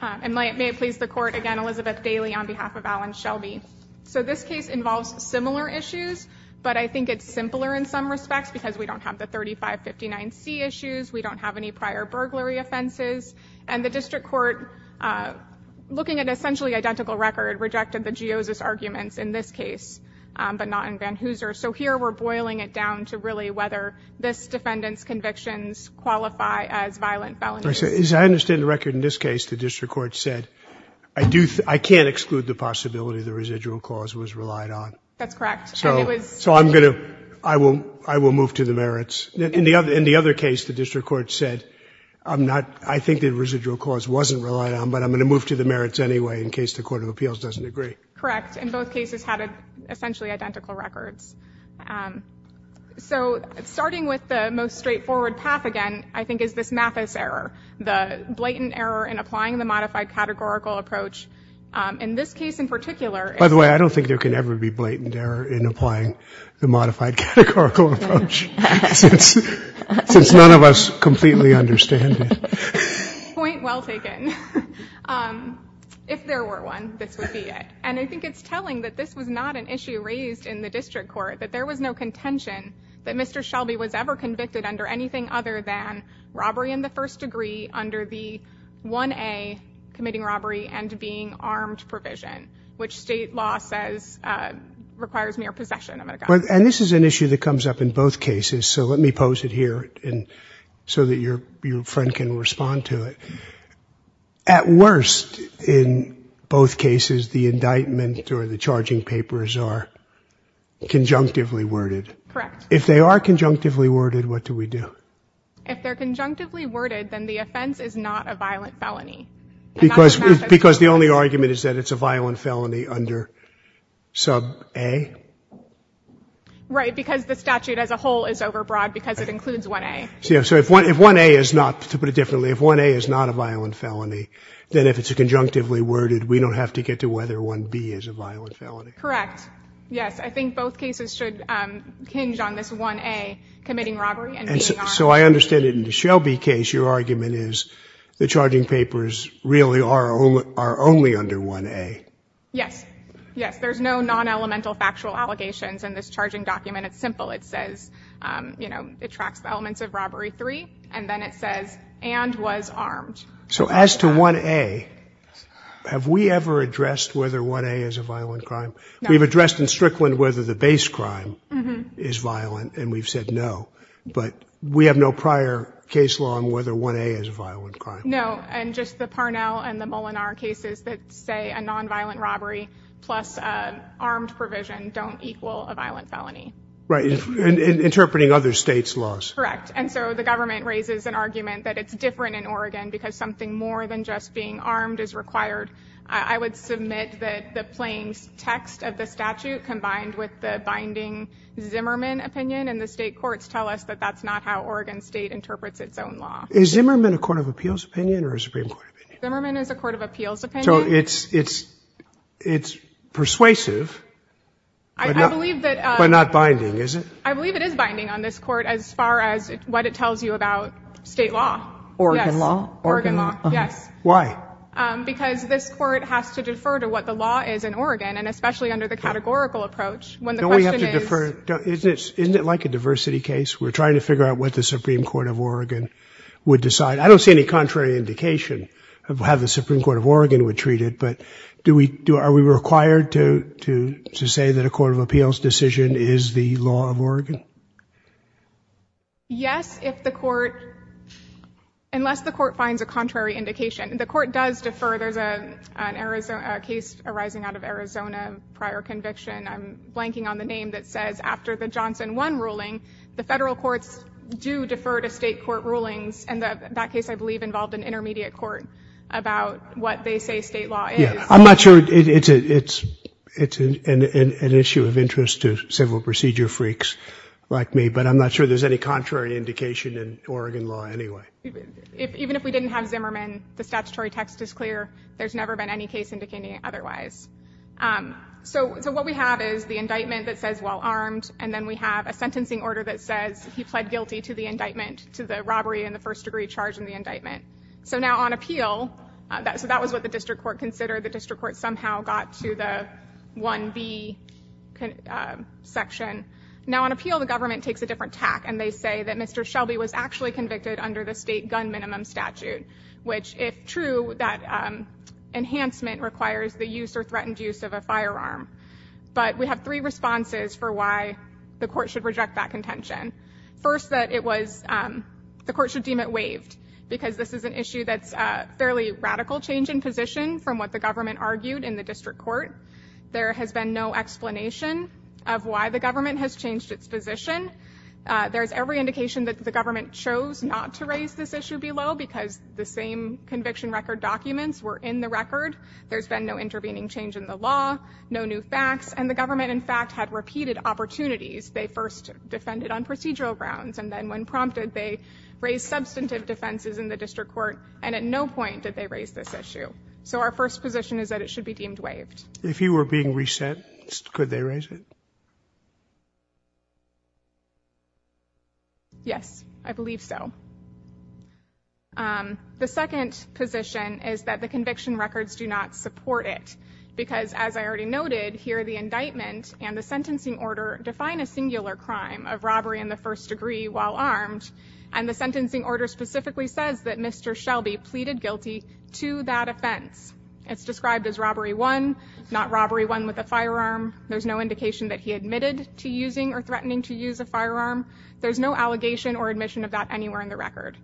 And may it please the court, again Elizabeth Daly on behalf of Alan Shelby. So this case involves similar issues, but I think it's simpler in some respects because we don't have the 3559C issues, we don't have any prior burglary offenses, and the district court, looking at essentially identical record, rejected the Geosis arguments in this case, but not in Van Hooser. So here we're boiling it down to really whether this defendant's convictions qualify as district court said, I can't exclude the possibility the residual cause was relied on. So I'm going to, I will move to the merits. In the other case, the district court said, I'm not, I think the residual cause wasn't relied on, but I'm going to move to the merits anyway in case the court of appeals doesn't agree. Correct. And both cases had essentially identical records. So starting with the most straightforward path again, I think is this Mathis error, the blatant error in applying the modified categorical approach in this case in particular. By the way, I don't think there could ever be blatant error in applying the modified categorical approach, since none of us completely understand it. Point well taken. If there were one, this would be it. And I think it's telling that this was not an issue raised in the district court, that there was no contention that Mr. Shelby was ever convicted under anything other than the first degree under the 1A committing robbery and being armed provision, which state law says requires mere possession of a gun. And this is an issue that comes up in both cases, so let me pose it here so that your friend can respond to it. At worst, in both cases, the indictment or the charging papers are conjunctively worded. Correct. If they are conjunctively worded, what do we do? If they're conjunctively worded, then the offense is not a violent felony. Because the only argument is that it's a violent felony under sub A? Right, because the statute as a whole is overbroad, because it includes 1A. So if 1A is not, to put it differently, if 1A is not a violent felony, then if it's conjunctively worded, we don't have to get to whether 1B is a violent felony. Correct. Yes, I think both cases should hinge on this 1A committing robbery and being armed. So I understand that in the Shelby case, your argument is the charging papers really are only under 1A. Yes, yes. There's no non-elemental factual allegations in this charging document. It's simple. It says, you know, it tracks the elements of robbery 3, and then it says, and was armed. So as to 1A, have we ever addressed whether 1A is a violent crime? No. We've addressed in Strickland whether the base crime is violent, and we've said no. But we have no prior case law on whether 1A is a violent crime. No. And just the Parnell and the Molinar cases that say a non-violent robbery plus armed provision don't equal a violent felony. Right. And interpreting other states' laws. Correct. And so the government raises an argument that it's different in Oregon because something more than just being armed is required. I would submit that the plain text of the statute combined with the binding Zimmerman opinion in the state courts tell us that that's not how Oregon State interprets its own law. Is Zimmerman a court of appeals opinion or a Supreme Court opinion? Zimmerman is a court of appeals opinion. So it's persuasive, but not binding, is it? I believe it is binding on this Court as far as what it tells you about State law. Oregon law? Oregon law, yes. Why? Because this Court has to defer to what the law is in Oregon, and especially under the categorical approach. Don't we have to defer? Isn't it like a diversity case? We're trying to figure out what the Supreme Court of Oregon would decide. I don't see any contrary indication of how the Supreme Court of Oregon would treat it, but are we required to say that a court of appeals decision is the law of Oregon? Yes, if the Court, unless the Court finds a contrary indication. The Court does defer. There's a case arising out of Arizona, prior conviction. I'm blanking on the name that says after the Johnson 1 ruling, the federal courts do defer to the Supreme Court. I'm not sure it's an issue of interest to civil procedure freaks like me, but I'm not sure there's any contrary indication in Oregon law anyway. Even if we didn't have Zimmerman, the statutory text is clear. There's never been any case indicating it otherwise. So what we have is the indictment that says well armed, and then we have a sentencing order that says he was first degree charged in the indictment. So now on appeal, so that was what the district court considered. The district court somehow got to the 1B section. Now on appeal, the government takes a different tack, and they say that Mr. Shelby was actually convicted under the state gun minimum statute, which if true, that enhancement requires the use or threatened use of a firearm. But we have three responses for why the court should reject that contention. First, the court should deem it waived, because this is an issue that's a fairly radical change in position from what the government argued in the district court. There has been no explanation of why the government has changed its position. There's every indication that the government chose not to raise this issue below, because the same conviction record documents were in the record. There's been no intervening change in the law, no new facts, and the government in fact had repeated opportunities. They first defended on procedural grounds, and then when prompted, they raised substantive defenses in the district court, and at no point did they raise this issue. So our first position is that it should be deemed waived. Yes, I believe so. The second position is that the conviction records do not support it, because as I already noted, here the indictment and the sentencing order define a singular crime of robbery in the first degree while armed, and the sentencing order specifically says that Mr. Shelby pleaded guilty to that offense. It's described as robbery one, not robbery one with a firearm. There's no indication that he did not have a firearm in his conviction record.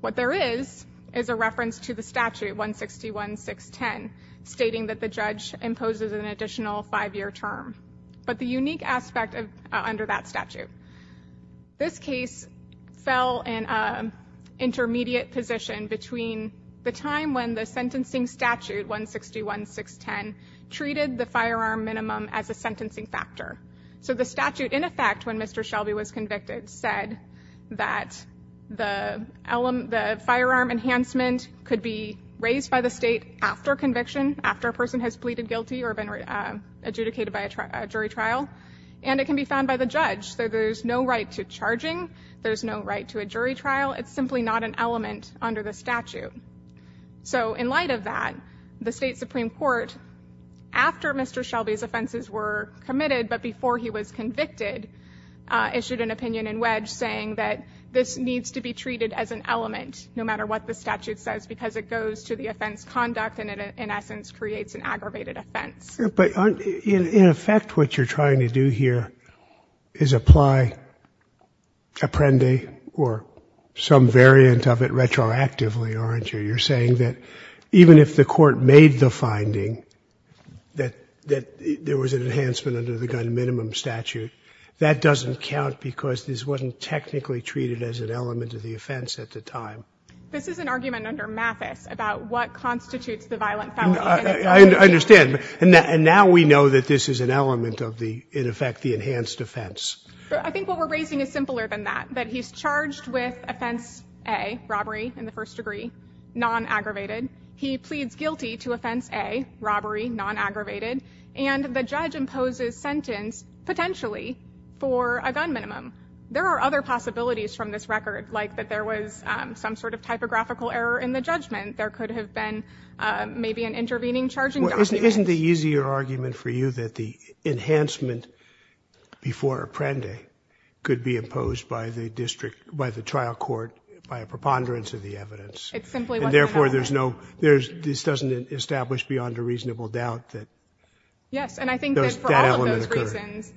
What there is, is a reference to the statute, 161.610, stating that the judge imposes an additional five-year term. But the unique aspect under that statute, this case fell in an intermediate position between the time when the sentencing statute, 161.610, treated the firearm minimum as a sentencing factor. So the statute, in effect, when Mr. Shelby was convicted, said that the firearm enhancement could be raised by the state after conviction, after a person has pleaded guilty or been adjudicated by a jury trial, and it can be found by the judge. So there's no right to charging. There's no right to a jury trial. It's simply not an element under the statute. So in light of that, the State Supreme Court, after Mr. Shelby's offenses were committed, but before he was convicted, issued an opinion and wedge saying that this needs to be treated as an element, no matter what the statute says, because it goes to the offense conduct and it, in essence, creates an aggravated offense. But in effect, what you're trying to do here is apply apprendi or some variant of it retroactively, aren't you? You're saying that even if the Court made the finding that there was an enhancement under the gun minimum statute, that doesn't count because this wasn't technically treated as an element of the offense at the time. This is an argument under Mathis about what constitutes the violent felony. I understand. And now we know that this is an element of the, in effect, the enhanced offense. I think what we're raising is simpler than that, that he's charged with offense A, robbery in the first degree, non-aggravated. He pleads guilty to offense A, robbery, non-aggravated, and the judge imposes sentence potentially for a gun minimum. There are other possibilities from this record, like that there was some sort of typographical error in the judgment. There could have been maybe an intervening charging document. Isn't the easier argument for you that the enhancement before apprendi could be imposed by the district, by the trial court, by a preponderance of the evidence? It simply wasn't an element. And therefore, there's no, this doesn't establish beyond a reasonable doubt that that element occurred. Yes, and I think that for all of those reasons,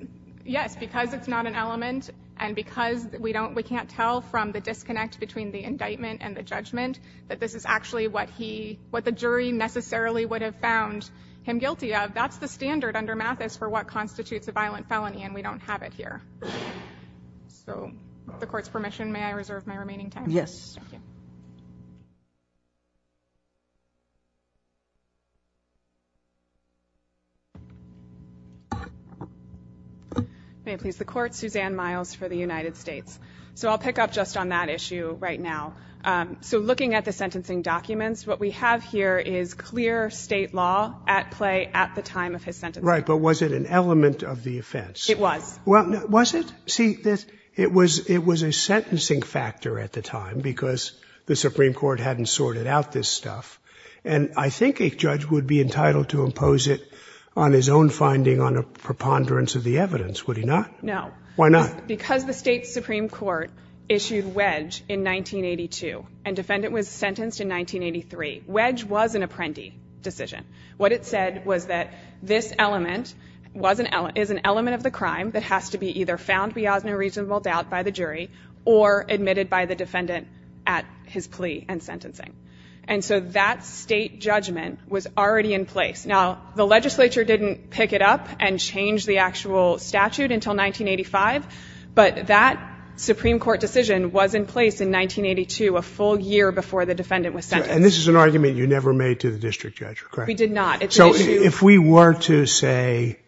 yes, because it's not an element and because we can't tell from the disconnect between the indictment and the judgment that this is actually what the jury necessarily would have found him guilty of, that's the standard under Mathis for what constitutes a violent felony, and we don't have it here. So with the court's permission, may I reserve my remaining time? Yes. May it please the court, Suzanne Miles for the United States. So I'll pick up just on that issue right now. So looking at the sentencing documents, what we have here is clear state law at play at the time of his sentence. Right, but was it an element of the offense? It was. Was it? See, it was a sentencing factor at the time because the Supreme Court hadn't sorted out this stuff, and I think a judge would be entitled to impose it on his own finding on a preponderance of the evidence, would he not? No. Why not? Because the state Supreme Court issued wedge in 1982, and defendant was sentenced in 1983. Wedge was an apprendi decision. What it said was that this element is an element of a crime that has to be either found beyond a reasonable doubt by the jury or admitted by the defendant at his plea and sentencing. And so that state judgment was already in place. Now, the legislature didn't pick it up and change the actual statute until 1985, but that Supreme Court decision was in place in 1982, a full year before the defendant was sentenced. And this is an argument you never made to the district judge, correct? We did not. So if we were to say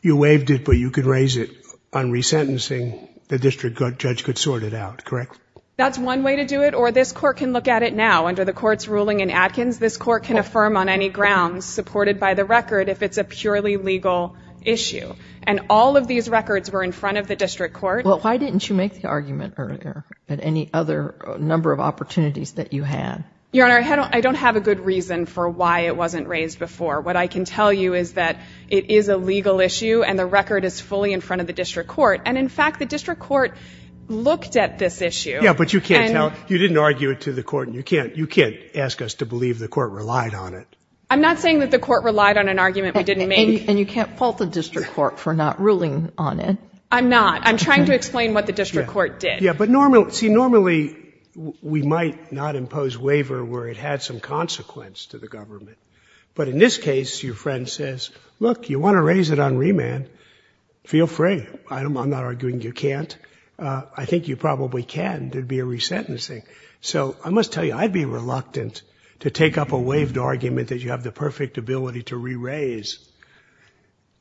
you waived it, but you could raise it on resentencing, the district judge could sort it out, correct? That's one way to do it, or this court can look at it now. Under the court's ruling in Adkins, this court can affirm on any grounds supported by the record if it's a purely legal issue. And all of these records were in front of the district court. Well, why didn't you make the argument earlier at any other number of opportunities that you had? Your Honor, I don't have a good reason for why it wasn't raised before. What I can tell you is that it is a legal issue, and the record is fully in front of the district court. And in fact, the district court looked at this issue. Yeah, but you can't tell. You didn't argue it to the court, and you can't ask us to believe the court relied on it. I'm not saying that the court relied on an argument we didn't make. And you can't fault the district court for not ruling on it. I'm not. I'm trying to explain what the district court did. Yeah, but normally we might not impose waiver where it had some consequence to the government. But in this case, your friend says, look, you want to raise it on remand, feel free. I'm not arguing you can't. I think you probably can. There would be a resentencing. So I must tell you, I'd be reluctant to take up a waived argument that you have the perfect ability to re-raise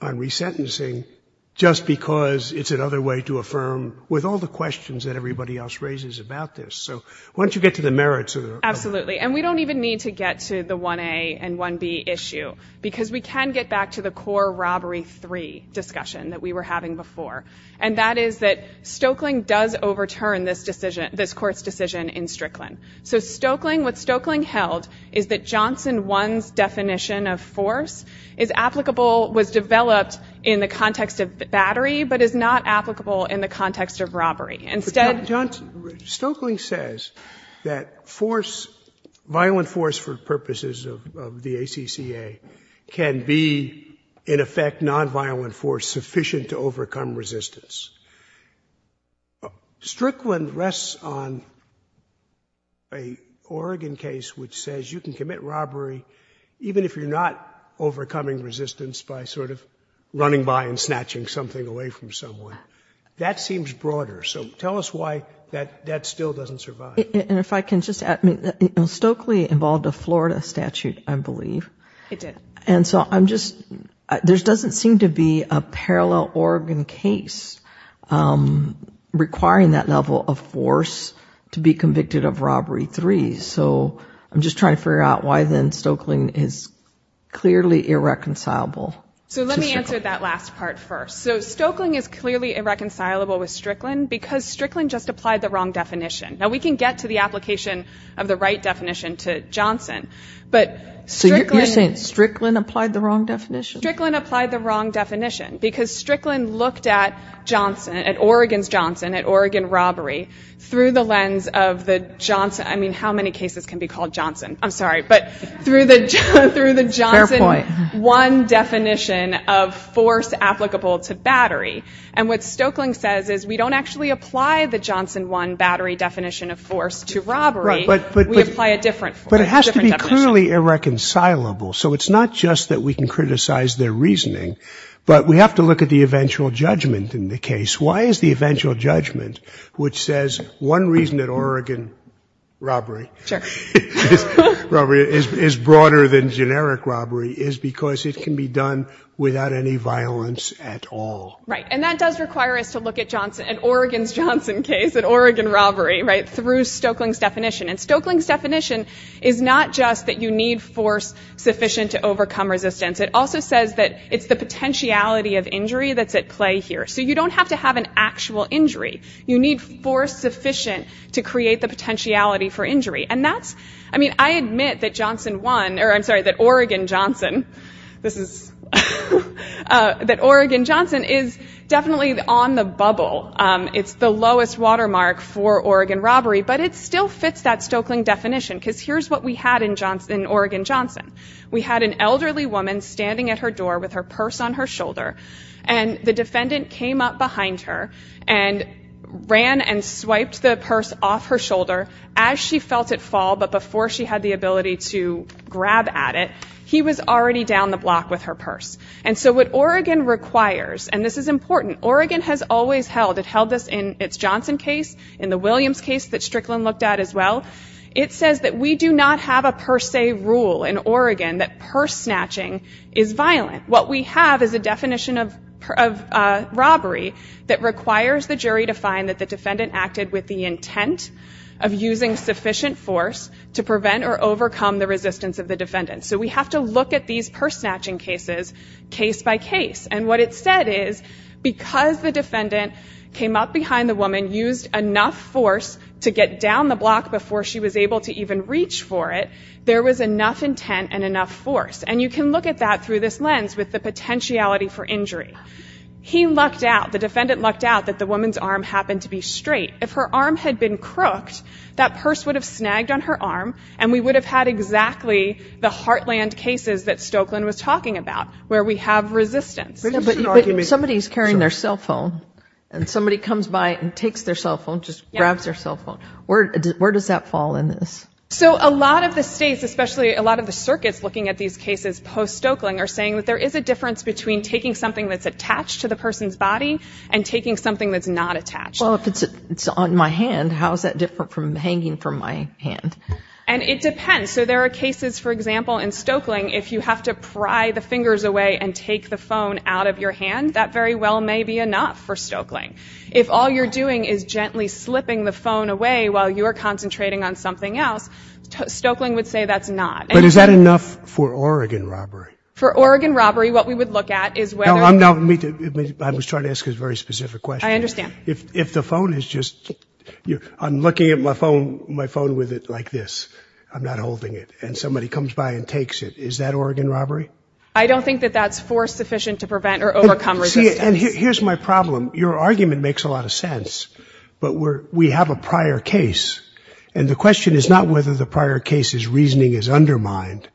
on resentencing just because it's another way to affirm with all the questions that everybody else raises about this. So why don't you get to the merits of it? Absolutely. And we don't even need to get to the 1A and 1B issue, because we can get back to the core Robbery 3 discussion that we were having before. And that is that Stoeckling does overturn this decision, this court's decision in Strickland. So Stoeckling, what Stoeckling held is that Johnson 1's definition of force is applicable, was developed in the context of battery, but is not applicable in the context of robbery. Instead... Stoeckling says that force, violent force for purposes of the ACCA can be, in effect, nonviolent force sufficient to overcome resistance. Strickland rests on a Oregon case which says you can commit robbery even if you're not overcoming resistance by sort of running by and snatching something away from someone. That seems broader. So tell us why that still doesn't survive. And if I can just add, Stoeckling involved a Florida statute, I believe. It did. And so there doesn't seem to be a parallel Oregon case requiring that level of force to be convicted of Robbery 3. So I'm just trying to figure out why then Stoeckling is clearly irreconcilable to Strickland. So let me answer that last part first. So Stoeckling is clearly irreconcilable with Strickland because Strickland just applied the wrong definition. Now we can get to the application of the right definition to Johnson, but Strickland... I mean, how many cases can be called Johnson? I'm sorry. But through the Johnson 1 definition of force applicable to battery. And what Stoeckling says is we don't actually apply the Johnson 1 battery definition of force to robbery. We apply a different definition. But it has to be clearly irreconcilable. So it's not just that we can criticize their reasoning, but we have to look at the eventual judgment, which says one reason that Oregon robbery is broader than generic robbery is because it can be done without any violence at all. And that does require us to look at Oregon's Johnson case, at Oregon robbery, through Stoeckling's definition. And Stoeckling's definition is not just that you need force sufficient to overcome resistance. It also says that it's the potentiality of injury that's at play here. So you don't have to have an actual injury you need force sufficient to create the potentiality for injury. And that's, I mean, I admit that Johnson 1, or I'm sorry, that Oregon Johnson, this is... that Oregon Johnson is definitely on the bubble. It's the lowest watermark for Oregon robbery, but it still fits that Stoeckling definition. Because here's what we had in Oregon Johnson. We had an elderly woman standing at her door with her purse on her shoulder, and the defendant came up behind her and ran and swiped the purse off her shoulder as she felt it fall, but before she had the ability to grab at it, he was already down the block with her purse. And so what Oregon requires, and this is important, Oregon has always held, it held this in its Johnson case, in the Williams case that Strickland looked at as well, it says that we do not have a per se rule in Oregon that purse snatching is violent. What we have is a definition of robbery that requires the jury to find that the defendant acted with the intent of using sufficient force to prevent or overcome the resistance of the defendant. So we have to look at these purse snatching cases case by case. And what it said is because the defendant came up behind the woman, used enough force to get down the block before she was able to even reach for it, there was enough intent and enough force. And you can look at that through this lens with the potentiality for injury. He lucked out, the defendant lucked out that the woman's arm happened to be straight. If her arm had been crooked, that purse would have snagged on her arm, and we would have had exactly the heartland cases that Stokeland was talking about, where we have resistance. But somebody's carrying their cell phone, and somebody comes by and takes their cell phone, just grabs their cell phone. Where does that fall in this? So a lot of the states, especially a lot of the circuits looking at these cases post-Stokeland are saying that there is a difference between taking something that's attached to the person's body and taking something that's not attached. Well, if it's on my hand, how is that different from hanging from my hand? And it depends. So there are cases, for example, in Stokeland, if you have to pry the fingers away and take the phone out of your hand, that very well may be enough for Stokeland. If all you're doing is gently slipping the phone away while you're concentrating on something else, Stokeland would say that's not. But is that enough for Oregon robbery? For Oregon robbery, what we would look at is whether... No, I was trying to ask a very specific question. If the phone is just, I'm looking at my phone with it like this, I'm not holding it, and somebody comes by and takes it, is that Oregon robbery? I don't think that that's force sufficient to prevent or overcome resistance. See, and here's my problem. Your argument makes a lot of sense. But we have a prior case, and the question is not whether the prior case's reasoning is undermined,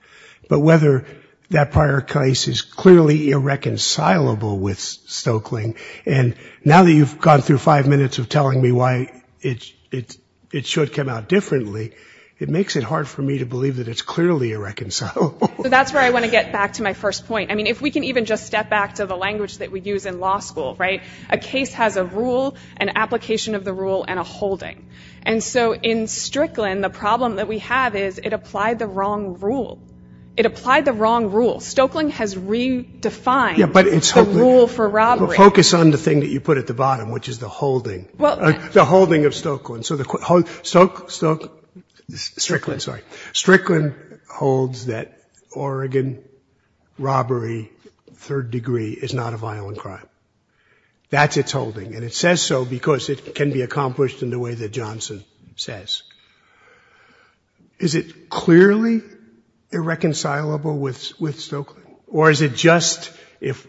but whether that prior case is clearly irreconcilable with Stokeland. And now that you've gone through five minutes of telling me why it should come out differently, it makes it hard for me to believe that it's clearly irreconcilable. So that's where I want to get back to my first point. I mean, if we can even just step back to the language that we use in law school, right? A case has a rule, an application of the rule, and a holding. And so in Strickland, the problem that we have is it applied the wrong rule. It applied the wrong rule. Stokeland has redefined the rule for robbery. But focus on the thing that you put at the bottom, which is the holding. The holding of Stokeland. Strickland holds that Oregon robbery, third degree, is not a violent crime. That's its holding. And it says so because it can be accomplished in the way that Johnson says. Is it clearly irreconcilable with Stokeland? Or is it just if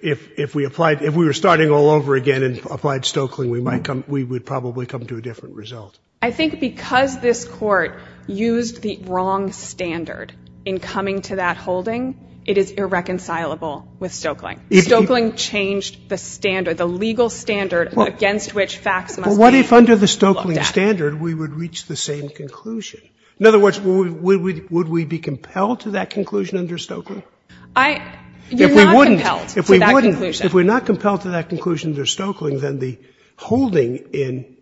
we applied, if we were starting all over again and applied Stokeland, we would probably come to a different result? I think because this Court used the wrong standard in coming to that holding, it is irreconcilable with Stokeland. Stokeland changed the standard, the legal standard against which facts must be looked at. What if under the Stokeland standard, we would reach the same conclusion? In other words, would we be compelled to that conclusion under Stokeland? You're not compelled to that conclusion. If we're not compelled to that conclusion under Stokeland, then the holding in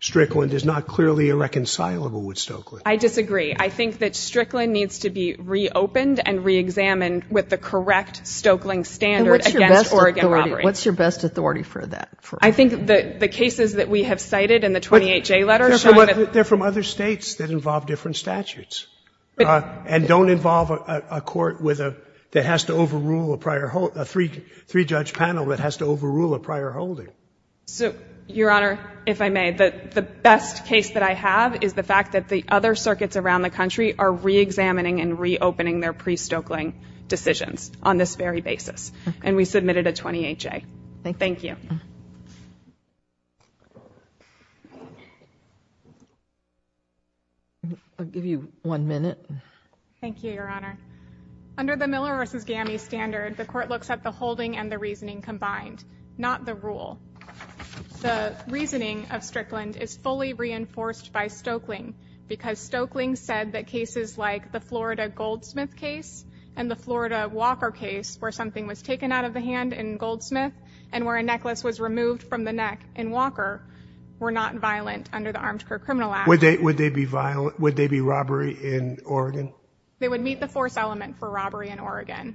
Strickland is not clearly irreconcilable with Stokeland. I disagree. I think that Strickland needs to be reopened and reexamined with the correct Stokeland standard against Oregon robbery. What's your best authority for that? I think the cases that we have cited in the 28J letter show that They're from other States that involve different statutes and don't involve a court with a, that has to overrule a prior, a three-judge panel that has to overrule a prior holding. So, Your Honor, if I may, the best case that I have is the fact that the other circuits around the country are reexamining and reopening their pre-Stokeland decisions on this very basis. And we submitted a 28J. Thank you. I'll give you one minute. Thank you, Your Honor. Under the Miller v. Gammey standard, the court looks at the holding and the reasoning combined, not the rule. The reasoning of Strickland is fully reinforced by Stokeland because Stokeland said that Walker case, where something was taken out of the hand in Goldsmith and where a necklace was removed from the neck in Walker, were not violent under the armed criminal act. Would they be violent? Would they be robbery in Oregon? They would meet the force element for robbery in Oregon.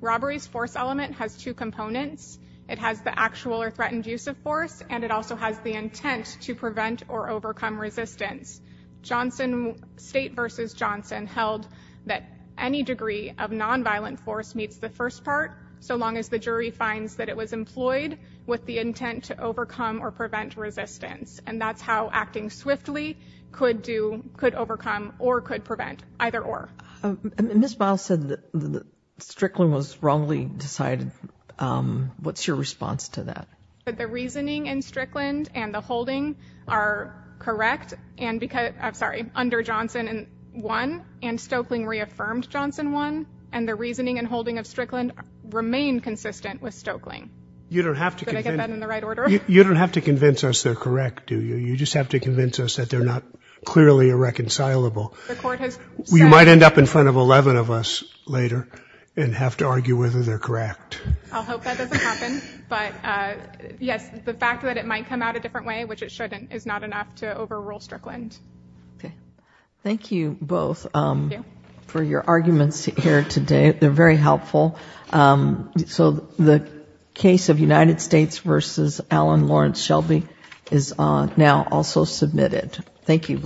Robbery's force element has two components. It has the actual or threatened use of force, and it also has the intent to prevent or overcome resistance. Johnson State v. Johnson held that any degree of nonviolent force meets the first part, so long as the jury finds that it was employed with the intent to overcome or prevent resistance. And that's how acting swiftly could do, could overcome or could prevent, either or. Ms. Miles said that Strickland was wrongly decided. What's your response to that? The reasoning in Strickland and the holding are correct. And because, I'm sorry, under Johnson, Johnson won, and Stokeland reaffirmed Johnson won, and the reasoning and holding of Strickland remained consistent with Stokeland. You don't have to convince us they're correct, do you? You just have to convince us that they're not clearly irreconcilable. We might end up in front of 11 of us later and have to argue whether they're correct. I'll hope that doesn't happen. But yes, the fact that it might come out a different way, which it shouldn't, is not enough to overrule Strickland. Thank you both for your arguments here today. They're very helpful. So the case of United States v. Alan Lawrence Shelby is now also submitted. Thank you both.